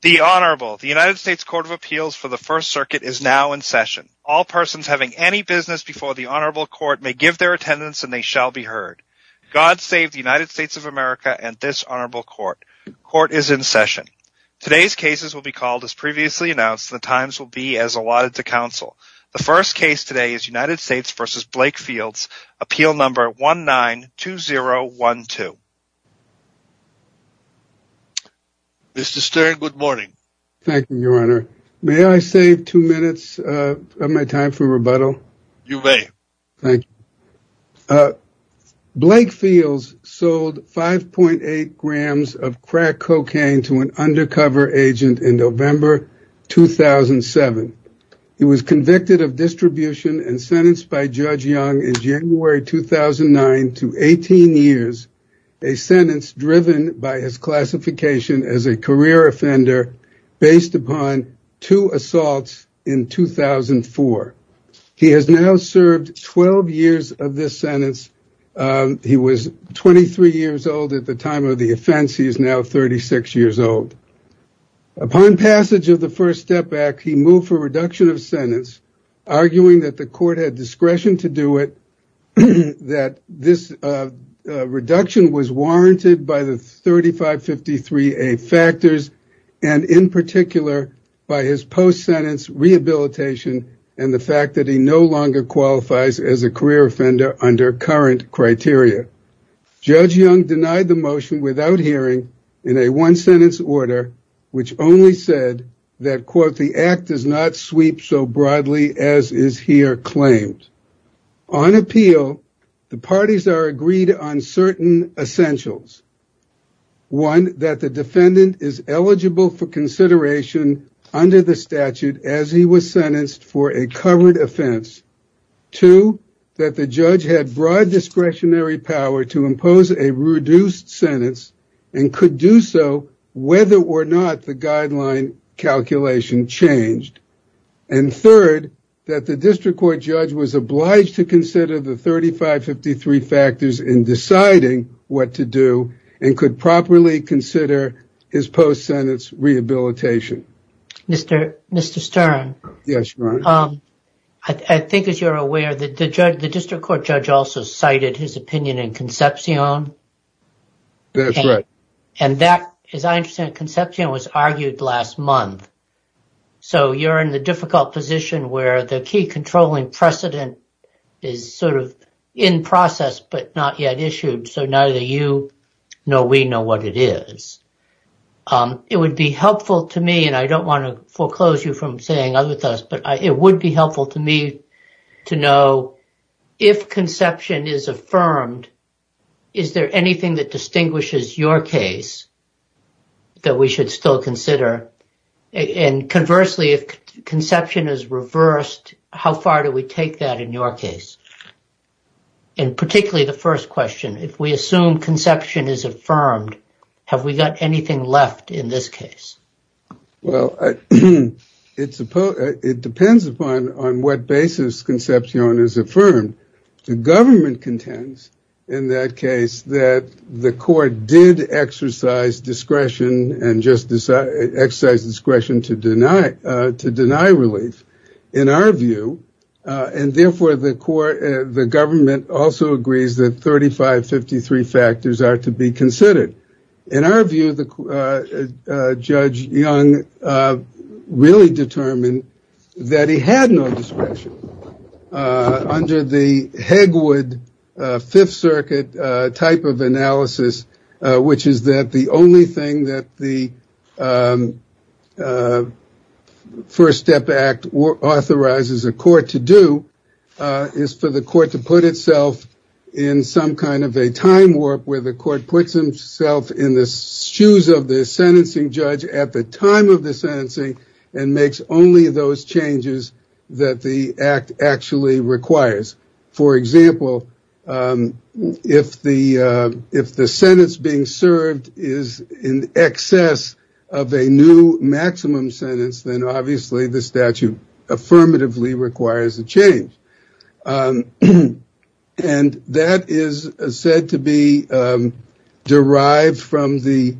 The Honorable. The United States Court of Appeals for the First Circuit is now in session. All persons having any business before the Honorable Court may give their attendance and they shall be heard. God save the United States of America and this Honorable Court. Court is in session. Today's cases will be called as previously announced and the times will be as allotted to counsel. The first case today is United States v. Blake Fields, Appeal Number 192012. Mr. Stern, good morning. Thank you, Your Honor. May I save two minutes of my time for rebuttal? You may. Thank you. Blake Fields sold 5.8 grams of crack cocaine to an undercover agent in November 2007. He was convicted of distribution and sentenced by Judge Young in January 2009 to 18 years, a sentence driven by his classification as a career offender based upon two assaults in 2004. He has now served 12 years of this sentence. He was 23 years old at the time of the offense. He is now 36 years old. Upon passage of the First Step Act, he moved for reduction of sentence, arguing that the court had discretion to do it, that this reduction was warranted by the 3553A factors, and in particular by his post-sentence rehabilitation and the fact that he no longer qualifies as a career offender under current criteria. Judge Young denied the motion without hearing in a one-sentence order, which only said that, quote, the act does not sweep so broadly as is here claimed. On appeal, the parties are agreed on certain essentials. One, that the defendant is eligible for consideration under the statute as he was sentenced for a covered offense. Two, that the judge had broad discretionary power to impose a reduced sentence and could do so whether or not the guideline calculation changed. And third, that the district court judge was obliged to consider the 3553A factors in deciding what to do and could properly consider his post-sentence rehabilitation. Mr. Stern, I think as you are aware, the district court judge also cited his opinion in Concepcion, and that, as I understand it, Concepcion was argued last month. So you are in the difficult position where the key controlling precedent is sort of in process but not yet issued, so neither you nor we know what it is. It would be helpful to me, and I do not want to foreclose you from saying other things, but it would be helpful to me to know if Concepcion is affirmed, is there anything that distinguishes your case that we should still consider? And conversely, if Concepcion is reversed, how far do we take that in your case? And particularly the first question, if we assume Concepcion is affirmed, have we got anything left in this case? Well, it depends on what basis Concepcion is affirmed. The government contends in that case that the court did exercise discretion to deny relief. In our view, and therefore the government also agrees that 3553 factors are to be considered. In our view, the judge Young really determined that he had no discretion under the Hegwood Fifth Circuit type of analysis, which is that the only thing that the First Step Act authorizes a court to do is for the court to put itself in some kind of a time warp where the court puts himself in the shoes of the sentencing judge at the time of the sentencing and makes only those changes that the act actually requires. For example, if the sentence being served is in excess of a new maximum sentence, then obviously the statute affirmatively requires a change. And that is said to be derived from the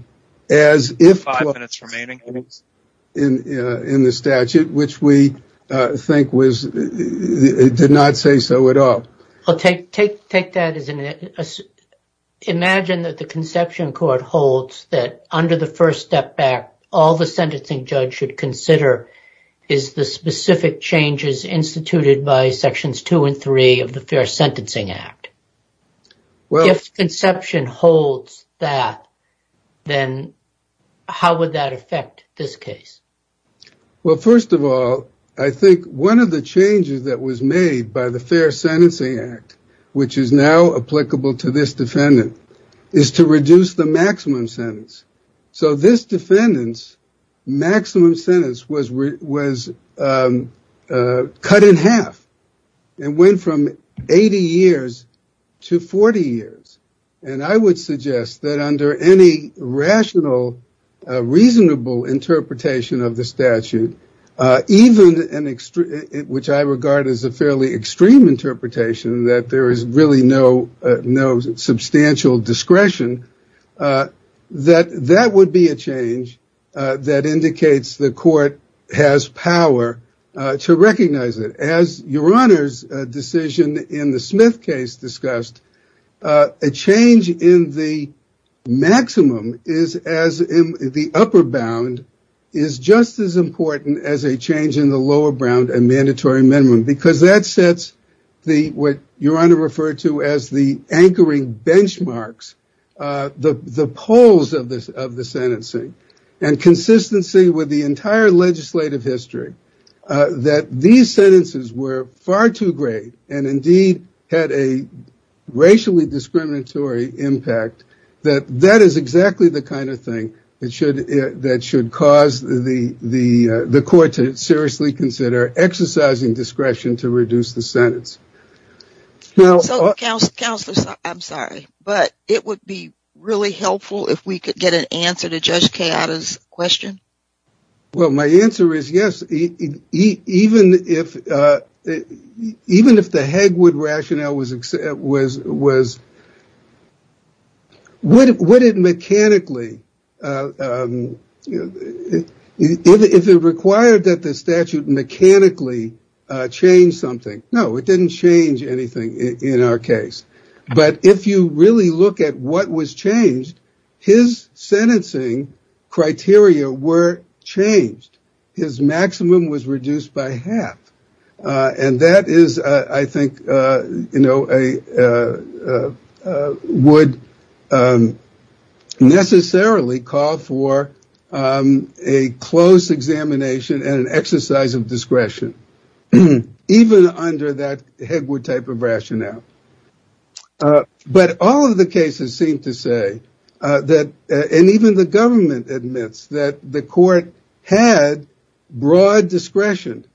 as if clause in the statute, which we think did not say so at all. Imagine that the Concepcion Court holds that under the First Step Act, all the sentencing judge should consider is the specific changes instituted by Sections 2 and 3 of the Fair Sentencing Act. If Concepcion holds that, then how would that affect this case? First of all, I think one of the changes that was made by the Fair Sentencing Act, which is now applicable to this defendant, is to reduce the maximum sentence. So this defendant's maximum sentence was cut in half and went from 80 years to a maximum sentence of 30 to 40 years. And I would suggest that under any rational, reasonable interpretation of the statute, even which I regard as a fairly extreme interpretation that there is really no substantial discretion, that that would be a change that indicates the court has power to recognize it. As Your Honor's decision in the Smith case discussed, a change in the maximum as in the upper bound is just as important as a change in the lower bound and mandatory minimum. Because that sets what Your Honor referred to as the anchoring benchmarks, the poles of the sentencing, and consistency with the entire legislative history, that these sentences were far too great and indeed had a racially discriminatory impact, that that is exactly the kind of thing that should cause the court to seriously consider exercising discretion to reduce the sentence. Counselor, I'm sorry, but it would be really helpful if we could get an answer to Judge Cayatta's question? Well, my answer is yes. Even if the Hegwood rationale was, would it mechanically, if it required that the statute mechanically change something, no, it didn't change anything in our case. But if you really look at what was changed, his sentencing criteria were changed. His maximum was reduced by half. And that is, I think, would necessarily call for a close examination and an exercise of discretion, even under that Hegwood type of rationale. But all of the cases seem to say, and even the government admits, that the court had broad discretion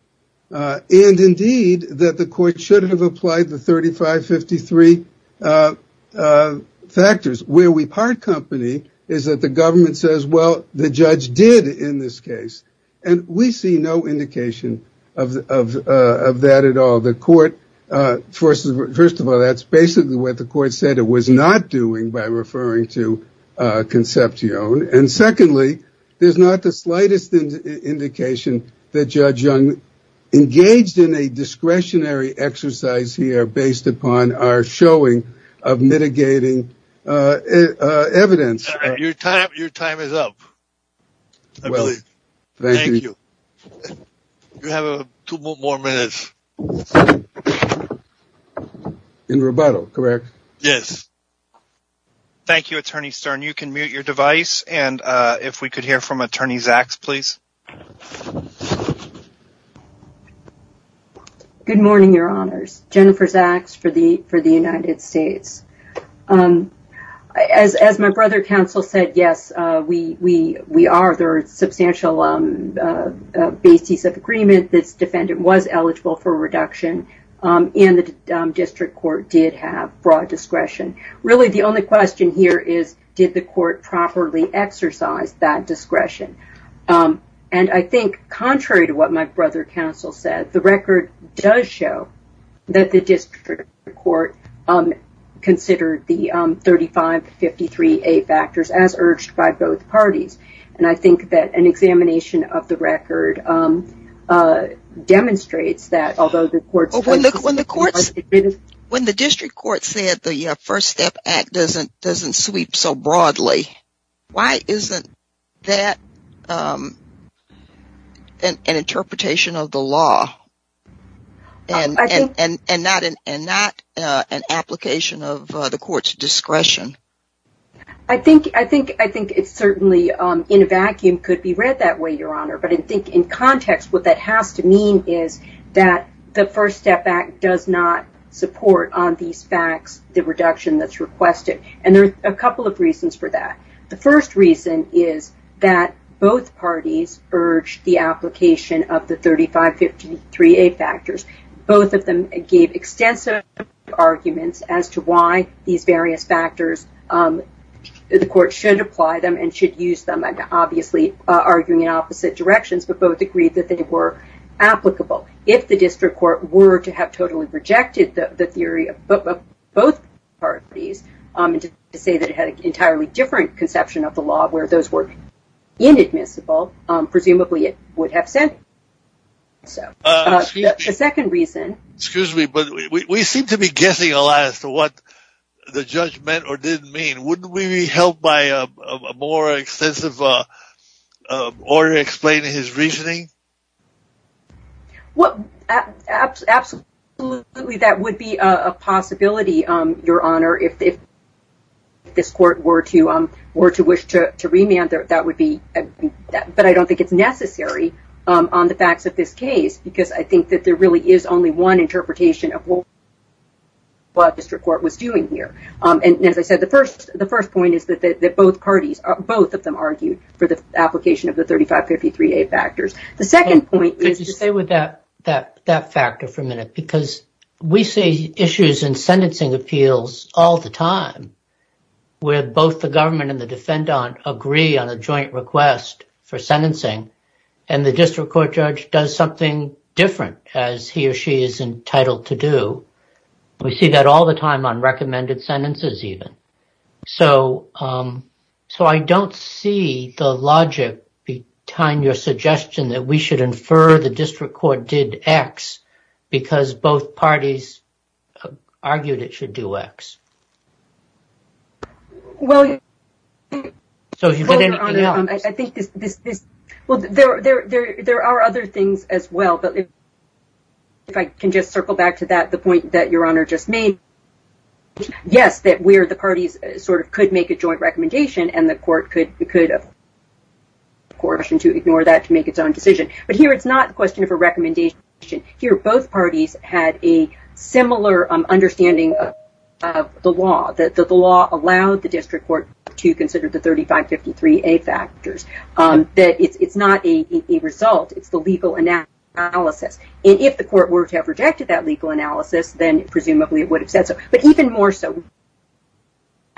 and indeed that the court should have applied the 3553 factors. Where we see no indication of that at all. First of all, that's basically what the court said it was not doing by referring to Concepcion. And secondly, there's not the slightest indication that Judge Young engaged in a discretionary exercise here based upon our showing of mitigating evidence. Your time is up. Thank you. You have two more minutes. In rebuttal, correct? Yes. Thank you, Attorney Stern. You can mute your device. And if we could hear from Attorney Zaks, please. Good morning, Your Honors. Jennifer Zaks for the United States. As my brother counted out counsel said, yes, we are. There are substantial bases of agreement. This defendant was eligible for reduction. And the district court did have broad discretion. Really, the only question here is, did the court properly exercise that discretion? And I think, contrary to what my brother counsel said, the record does show that the district court considered the 3553A factors as urged by both parties. And I think that an examination of the record demonstrates that although the court's... When the district court said the First Step Act doesn't sweep so broadly, why isn't that an interpretation of the law and not an application of the court's discretion? I think it certainly in a vacuum could be read that way, Your Honor. But I think in context, what that has to mean is that the First Step Act does not support on these facts the reduction that's requested. And there are a couple of reasons for that. The first reason is that both parties urged the application of the 3553A factors. Both of them gave extensive arguments as to why these various factors, the court should apply them and should use them. And obviously, arguing in opposite directions, but both agreed that they were applicable. If the district court were to have totally rejected the theory of both parties, to say that it had an entirely different conception of the law where those were inadmissible, presumably it would have said so. The second reason... Excuse me, but we seem to be guessing a lot as to what the judge meant or didn't mean. Wouldn't we be helped by a more extensive order explaining his reasoning? Absolutely, that would be a possibility, Your Honor. If this court were to wish to remand it, that would be... But I don't think it's necessary on the facts of this case because I think that there really is only one interpretation of what the district court was doing here. And as I said, the first point is that both parties, both of them argued for the application of the 3553A factors. The second point is... Could you stay with that factor for a minute? Because we see issues in sentencing appeals all the time where both the government and the defendant agree on a joint request for sentencing and the district court judge does something different as he or she is entitled to do. We see that all the time on recommended sentences even. So I don't see the logic behind your suggestion that we should infer the district court did X because both parties argued it should do X. Well, Your Honor, I think this... Well, there are other things as well. But if I can just circle back to that, the point that Your Honor just made, yes, that we're the parties sort of could make a joint recommendation and the court could... to ignore that to make its own decision. But here it's not a question of a recommendation. Here, both parties had a similar understanding of the law, that the law allowed the district court to consider the 3553A factors, that it's not a result. It's the legal analysis. And if the court were to have rejected that legal analysis, then presumably it would have said so. But even more so,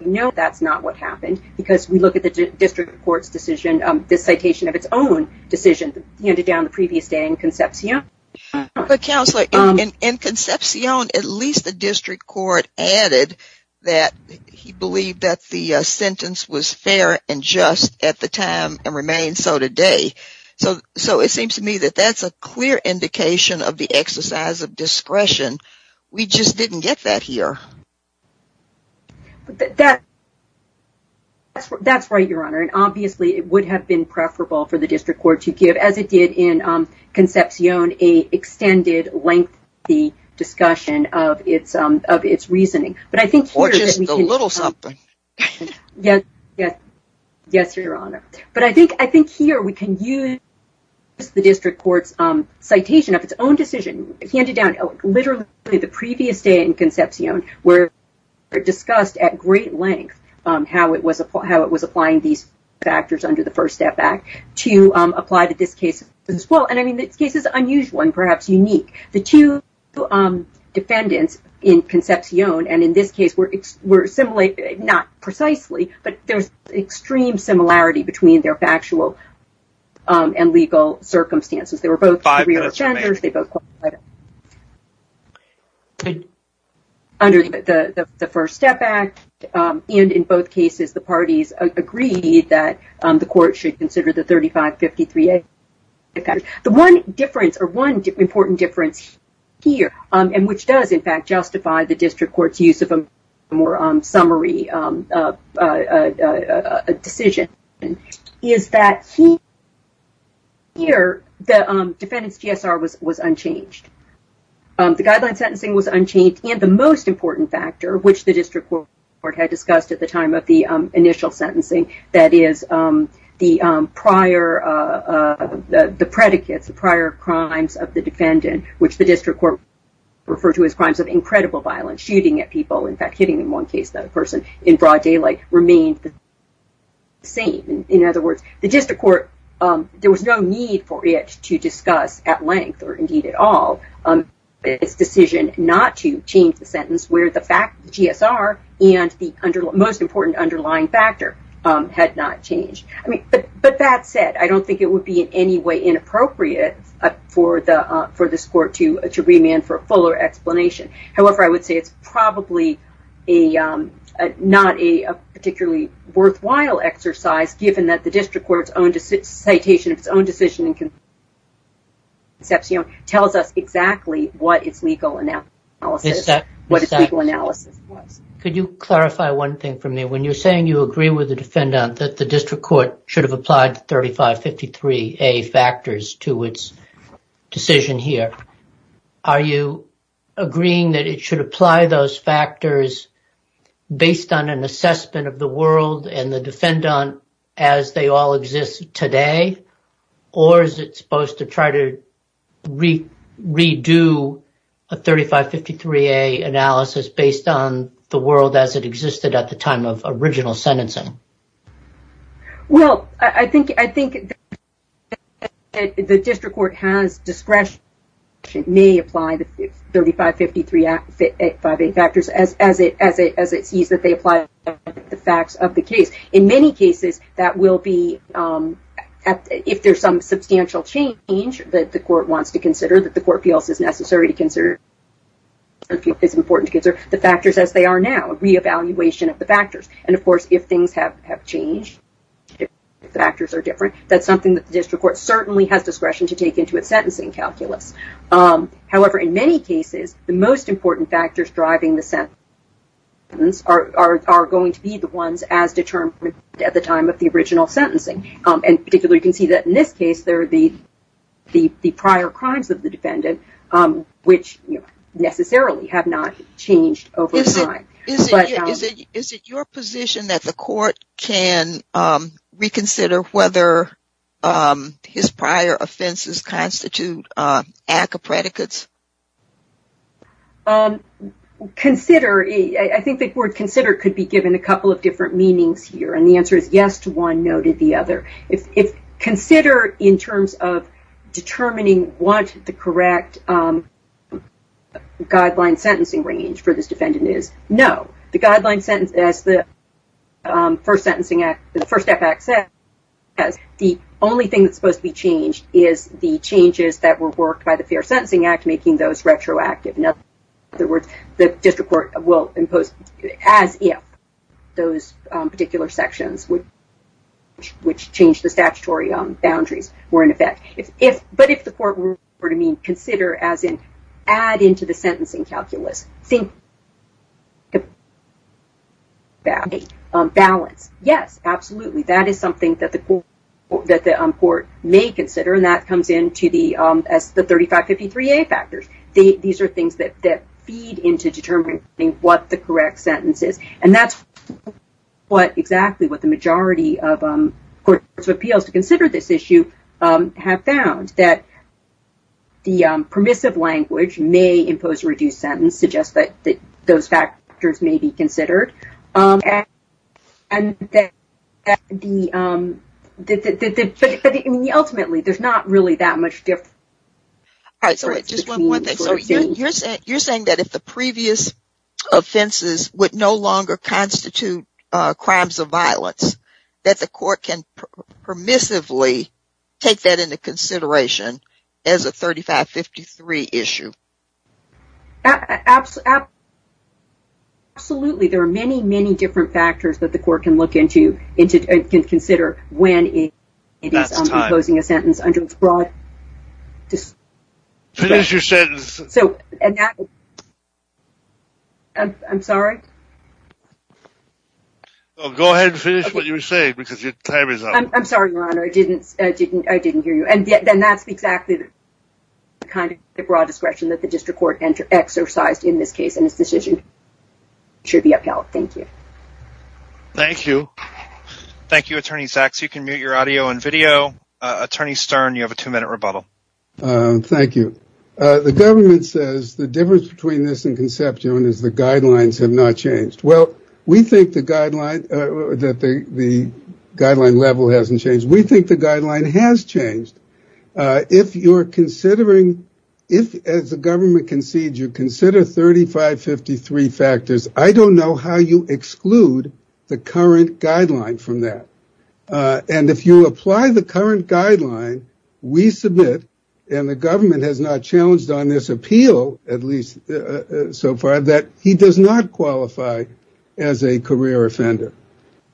we know that's not what happened because we look at the district court's decision, this citation of its own decision handed down the previous day in Concepcion. But Counselor, in Concepcion, at least the district court added that he believed that the sentence was fair and just at the time and remains so today. So it seems to me that that's a clear indication of the exercise of discretion. We just didn't get that here. That's right, Your Honor. And obviously it would have been preferable for the district court to give, as it did in Concepcion, an extended lengthy discussion of its reasoning. Or just a little something. Yes, Your Honor. But I think here we can use the district court's citation of its own discussed at great length how it was applying these factors under the First Step Act to apply to this case as well. And I mean, this case is unusual and perhaps unique. The two defendants in Concepcion and in this case were similar, not precisely, but there's extreme similarity between their factual and legal circumstances. They were both career offenders. Under the First Step Act, and in both cases, the parties agreed that the court should consider the 3553A. The one difference or one important difference here, and which does in fact justify the district court's use of a more summary decision, is that here the guideline sentencing was unchanged. The guideline sentencing was unchanged, and the most important factor, which the district court had discussed at the time of the initial sentencing, that is the prior predicates, the prior crimes of the defendant, which the district court referred to as crimes of incredible violence, shooting at people, in fact hitting in one case that person, in broad daylight, remained the same. In other words, the district court, there was no need for it to discuss at length, or indeed at all, its decision not to change the sentence where the fact, the GSR, and the most important underlying factor had not changed. But that said, I don't think it would be in any way inappropriate for this court to remand for a fuller explanation. However, I would say it's probably not a particularly worthwhile exercise, given that the district court's own citation of its own decision tells us exactly what its legal analysis was. Could you clarify one thing for me? When you're saying you agree with the defendant that the district court should have applied 3553A factors to its decision here, are you agreeing that it should apply those factors based on an assessment of the world and the defendant as they all exist today? Or is it supposed to try to redo a 3553A analysis based on the world as it existed at the time of original sentencing? Well, I think the fact that the district court has discretion may apply the 3553A factors as it sees that they apply the facts of the case. In many cases, that will be, if there's some substantial change that the court wants to consider, that the court feels is necessary to consider, is important to consider, the factors as they are now, a re-evaluation of the factors. And of course, if things have changed, if the factors are different, that's something that the district court certainly has discretion to take into its sentencing calculus. However, in many cases, the most important factors driving the sentence are going to be the ones as determined at the time of the original sentencing. And particularly, you can see that in this case, there are the prior crimes of the defendant, which necessarily have not changed over time. Is it your position that the court can reconsider whether his prior offenses constitute ACCA predicates? Consider, I think the word consider could be given a couple of different meanings here. And the answer is yes to one, no to the other. If consider in terms of determining what the correct guideline sentencing range for this defendant is, no. The guideline sentence, as the First Sentencing Act, the First Act says, the only thing that's supposed to be changed is the changes that were worked by the Fair Sentencing Act making those retroactive. In other words, the district court will impose as if those particular sections, which change the statutory boundaries, were in effect. But if the court were to consider, as in add into the sentencing calculus, think balance. Yes, absolutely. That is something that the court may consider. And that comes in as the 3553A factors. These are things that feed into determining what the have found, that the permissive language may impose a reduced sentence, suggest that those factors may be considered. Ultimately, there's not really that much difference. You're saying that if the previous offenses would no longer constitute crimes of violence, that the take that into consideration as a 3553 issue? Absolutely. There are many, many different factors that the court can look into and consider when it is imposing a sentence under its broad... Finish your sentence. I'm sorry? Go ahead and finish what you were saying. I'm sorry, Your Honor. I didn't hear you. And then that's exactly the kind of broad discretion that the district court exercised in this case. And this decision should be upheld. Thank you. Thank you. Thank you, Attorney Sachs. You can mute your audio and video. Attorney Stern, you have a two minute rebuttal. Thank you. The government says the difference between this and conception is the guidelines have not changed. Well, we think the guideline that the guideline level hasn't changed. We think the guideline has changed. If you're considering if as the government concedes you consider 3553 factors, I don't know how you exclude the current guideline from that. And if you apply the current guideline, we submit and the government has not challenged on this appeal, at least so far, that he does not qualify as a career offender.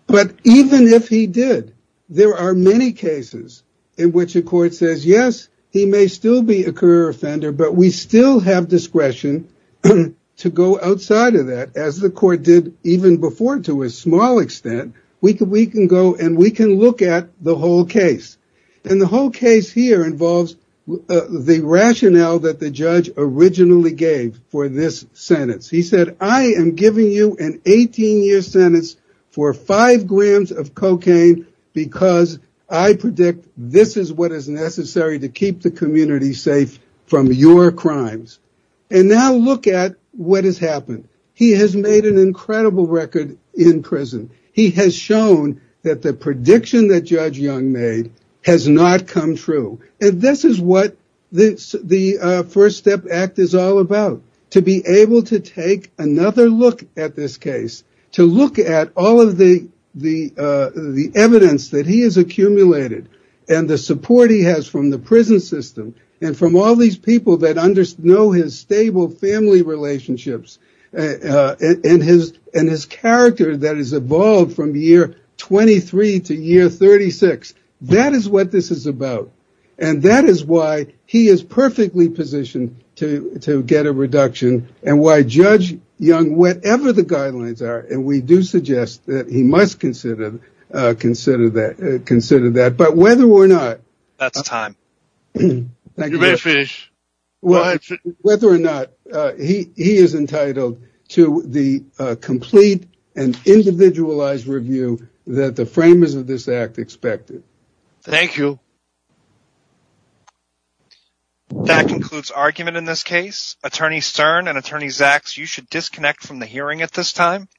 But even if he did, there are many cases in which a court says, yes, he may still be a career offender, but we still have discretion to go outside of that, as the court did even before. To a small extent, we can we can go and we can look at the whole case. And the whole case here involves the rationale that the judge originally gave for this sentence. He said, I am giving you an 18 year sentence for five grams of cocaine because I predict this is what is necessary to keep the community safe from your crimes. And now look at what has happened. He has made an incredible record in prison. He has shown that the prediction that Judge Young made has not come true. And this is what the First Step Act is all about, to be able to take another look at this case, to look at all of the evidence that he has accumulated and the support he has from the prison system and from all these people that know his stable family relationships and his character that has evolved from year 23 to year 36. That is what this is about. And that is why he is perfectly positioned to get a reduction and why Judge Young, whatever the guidelines are, and we do suggest that he must consider that, but whether or not that's time, whether or not he is entitled to the complete and individualized review that the framers of this act expected. Thank you. That concludes argument in this case. Attorney Stern and Attorney Zaks, you should disconnect from the hearing at this time.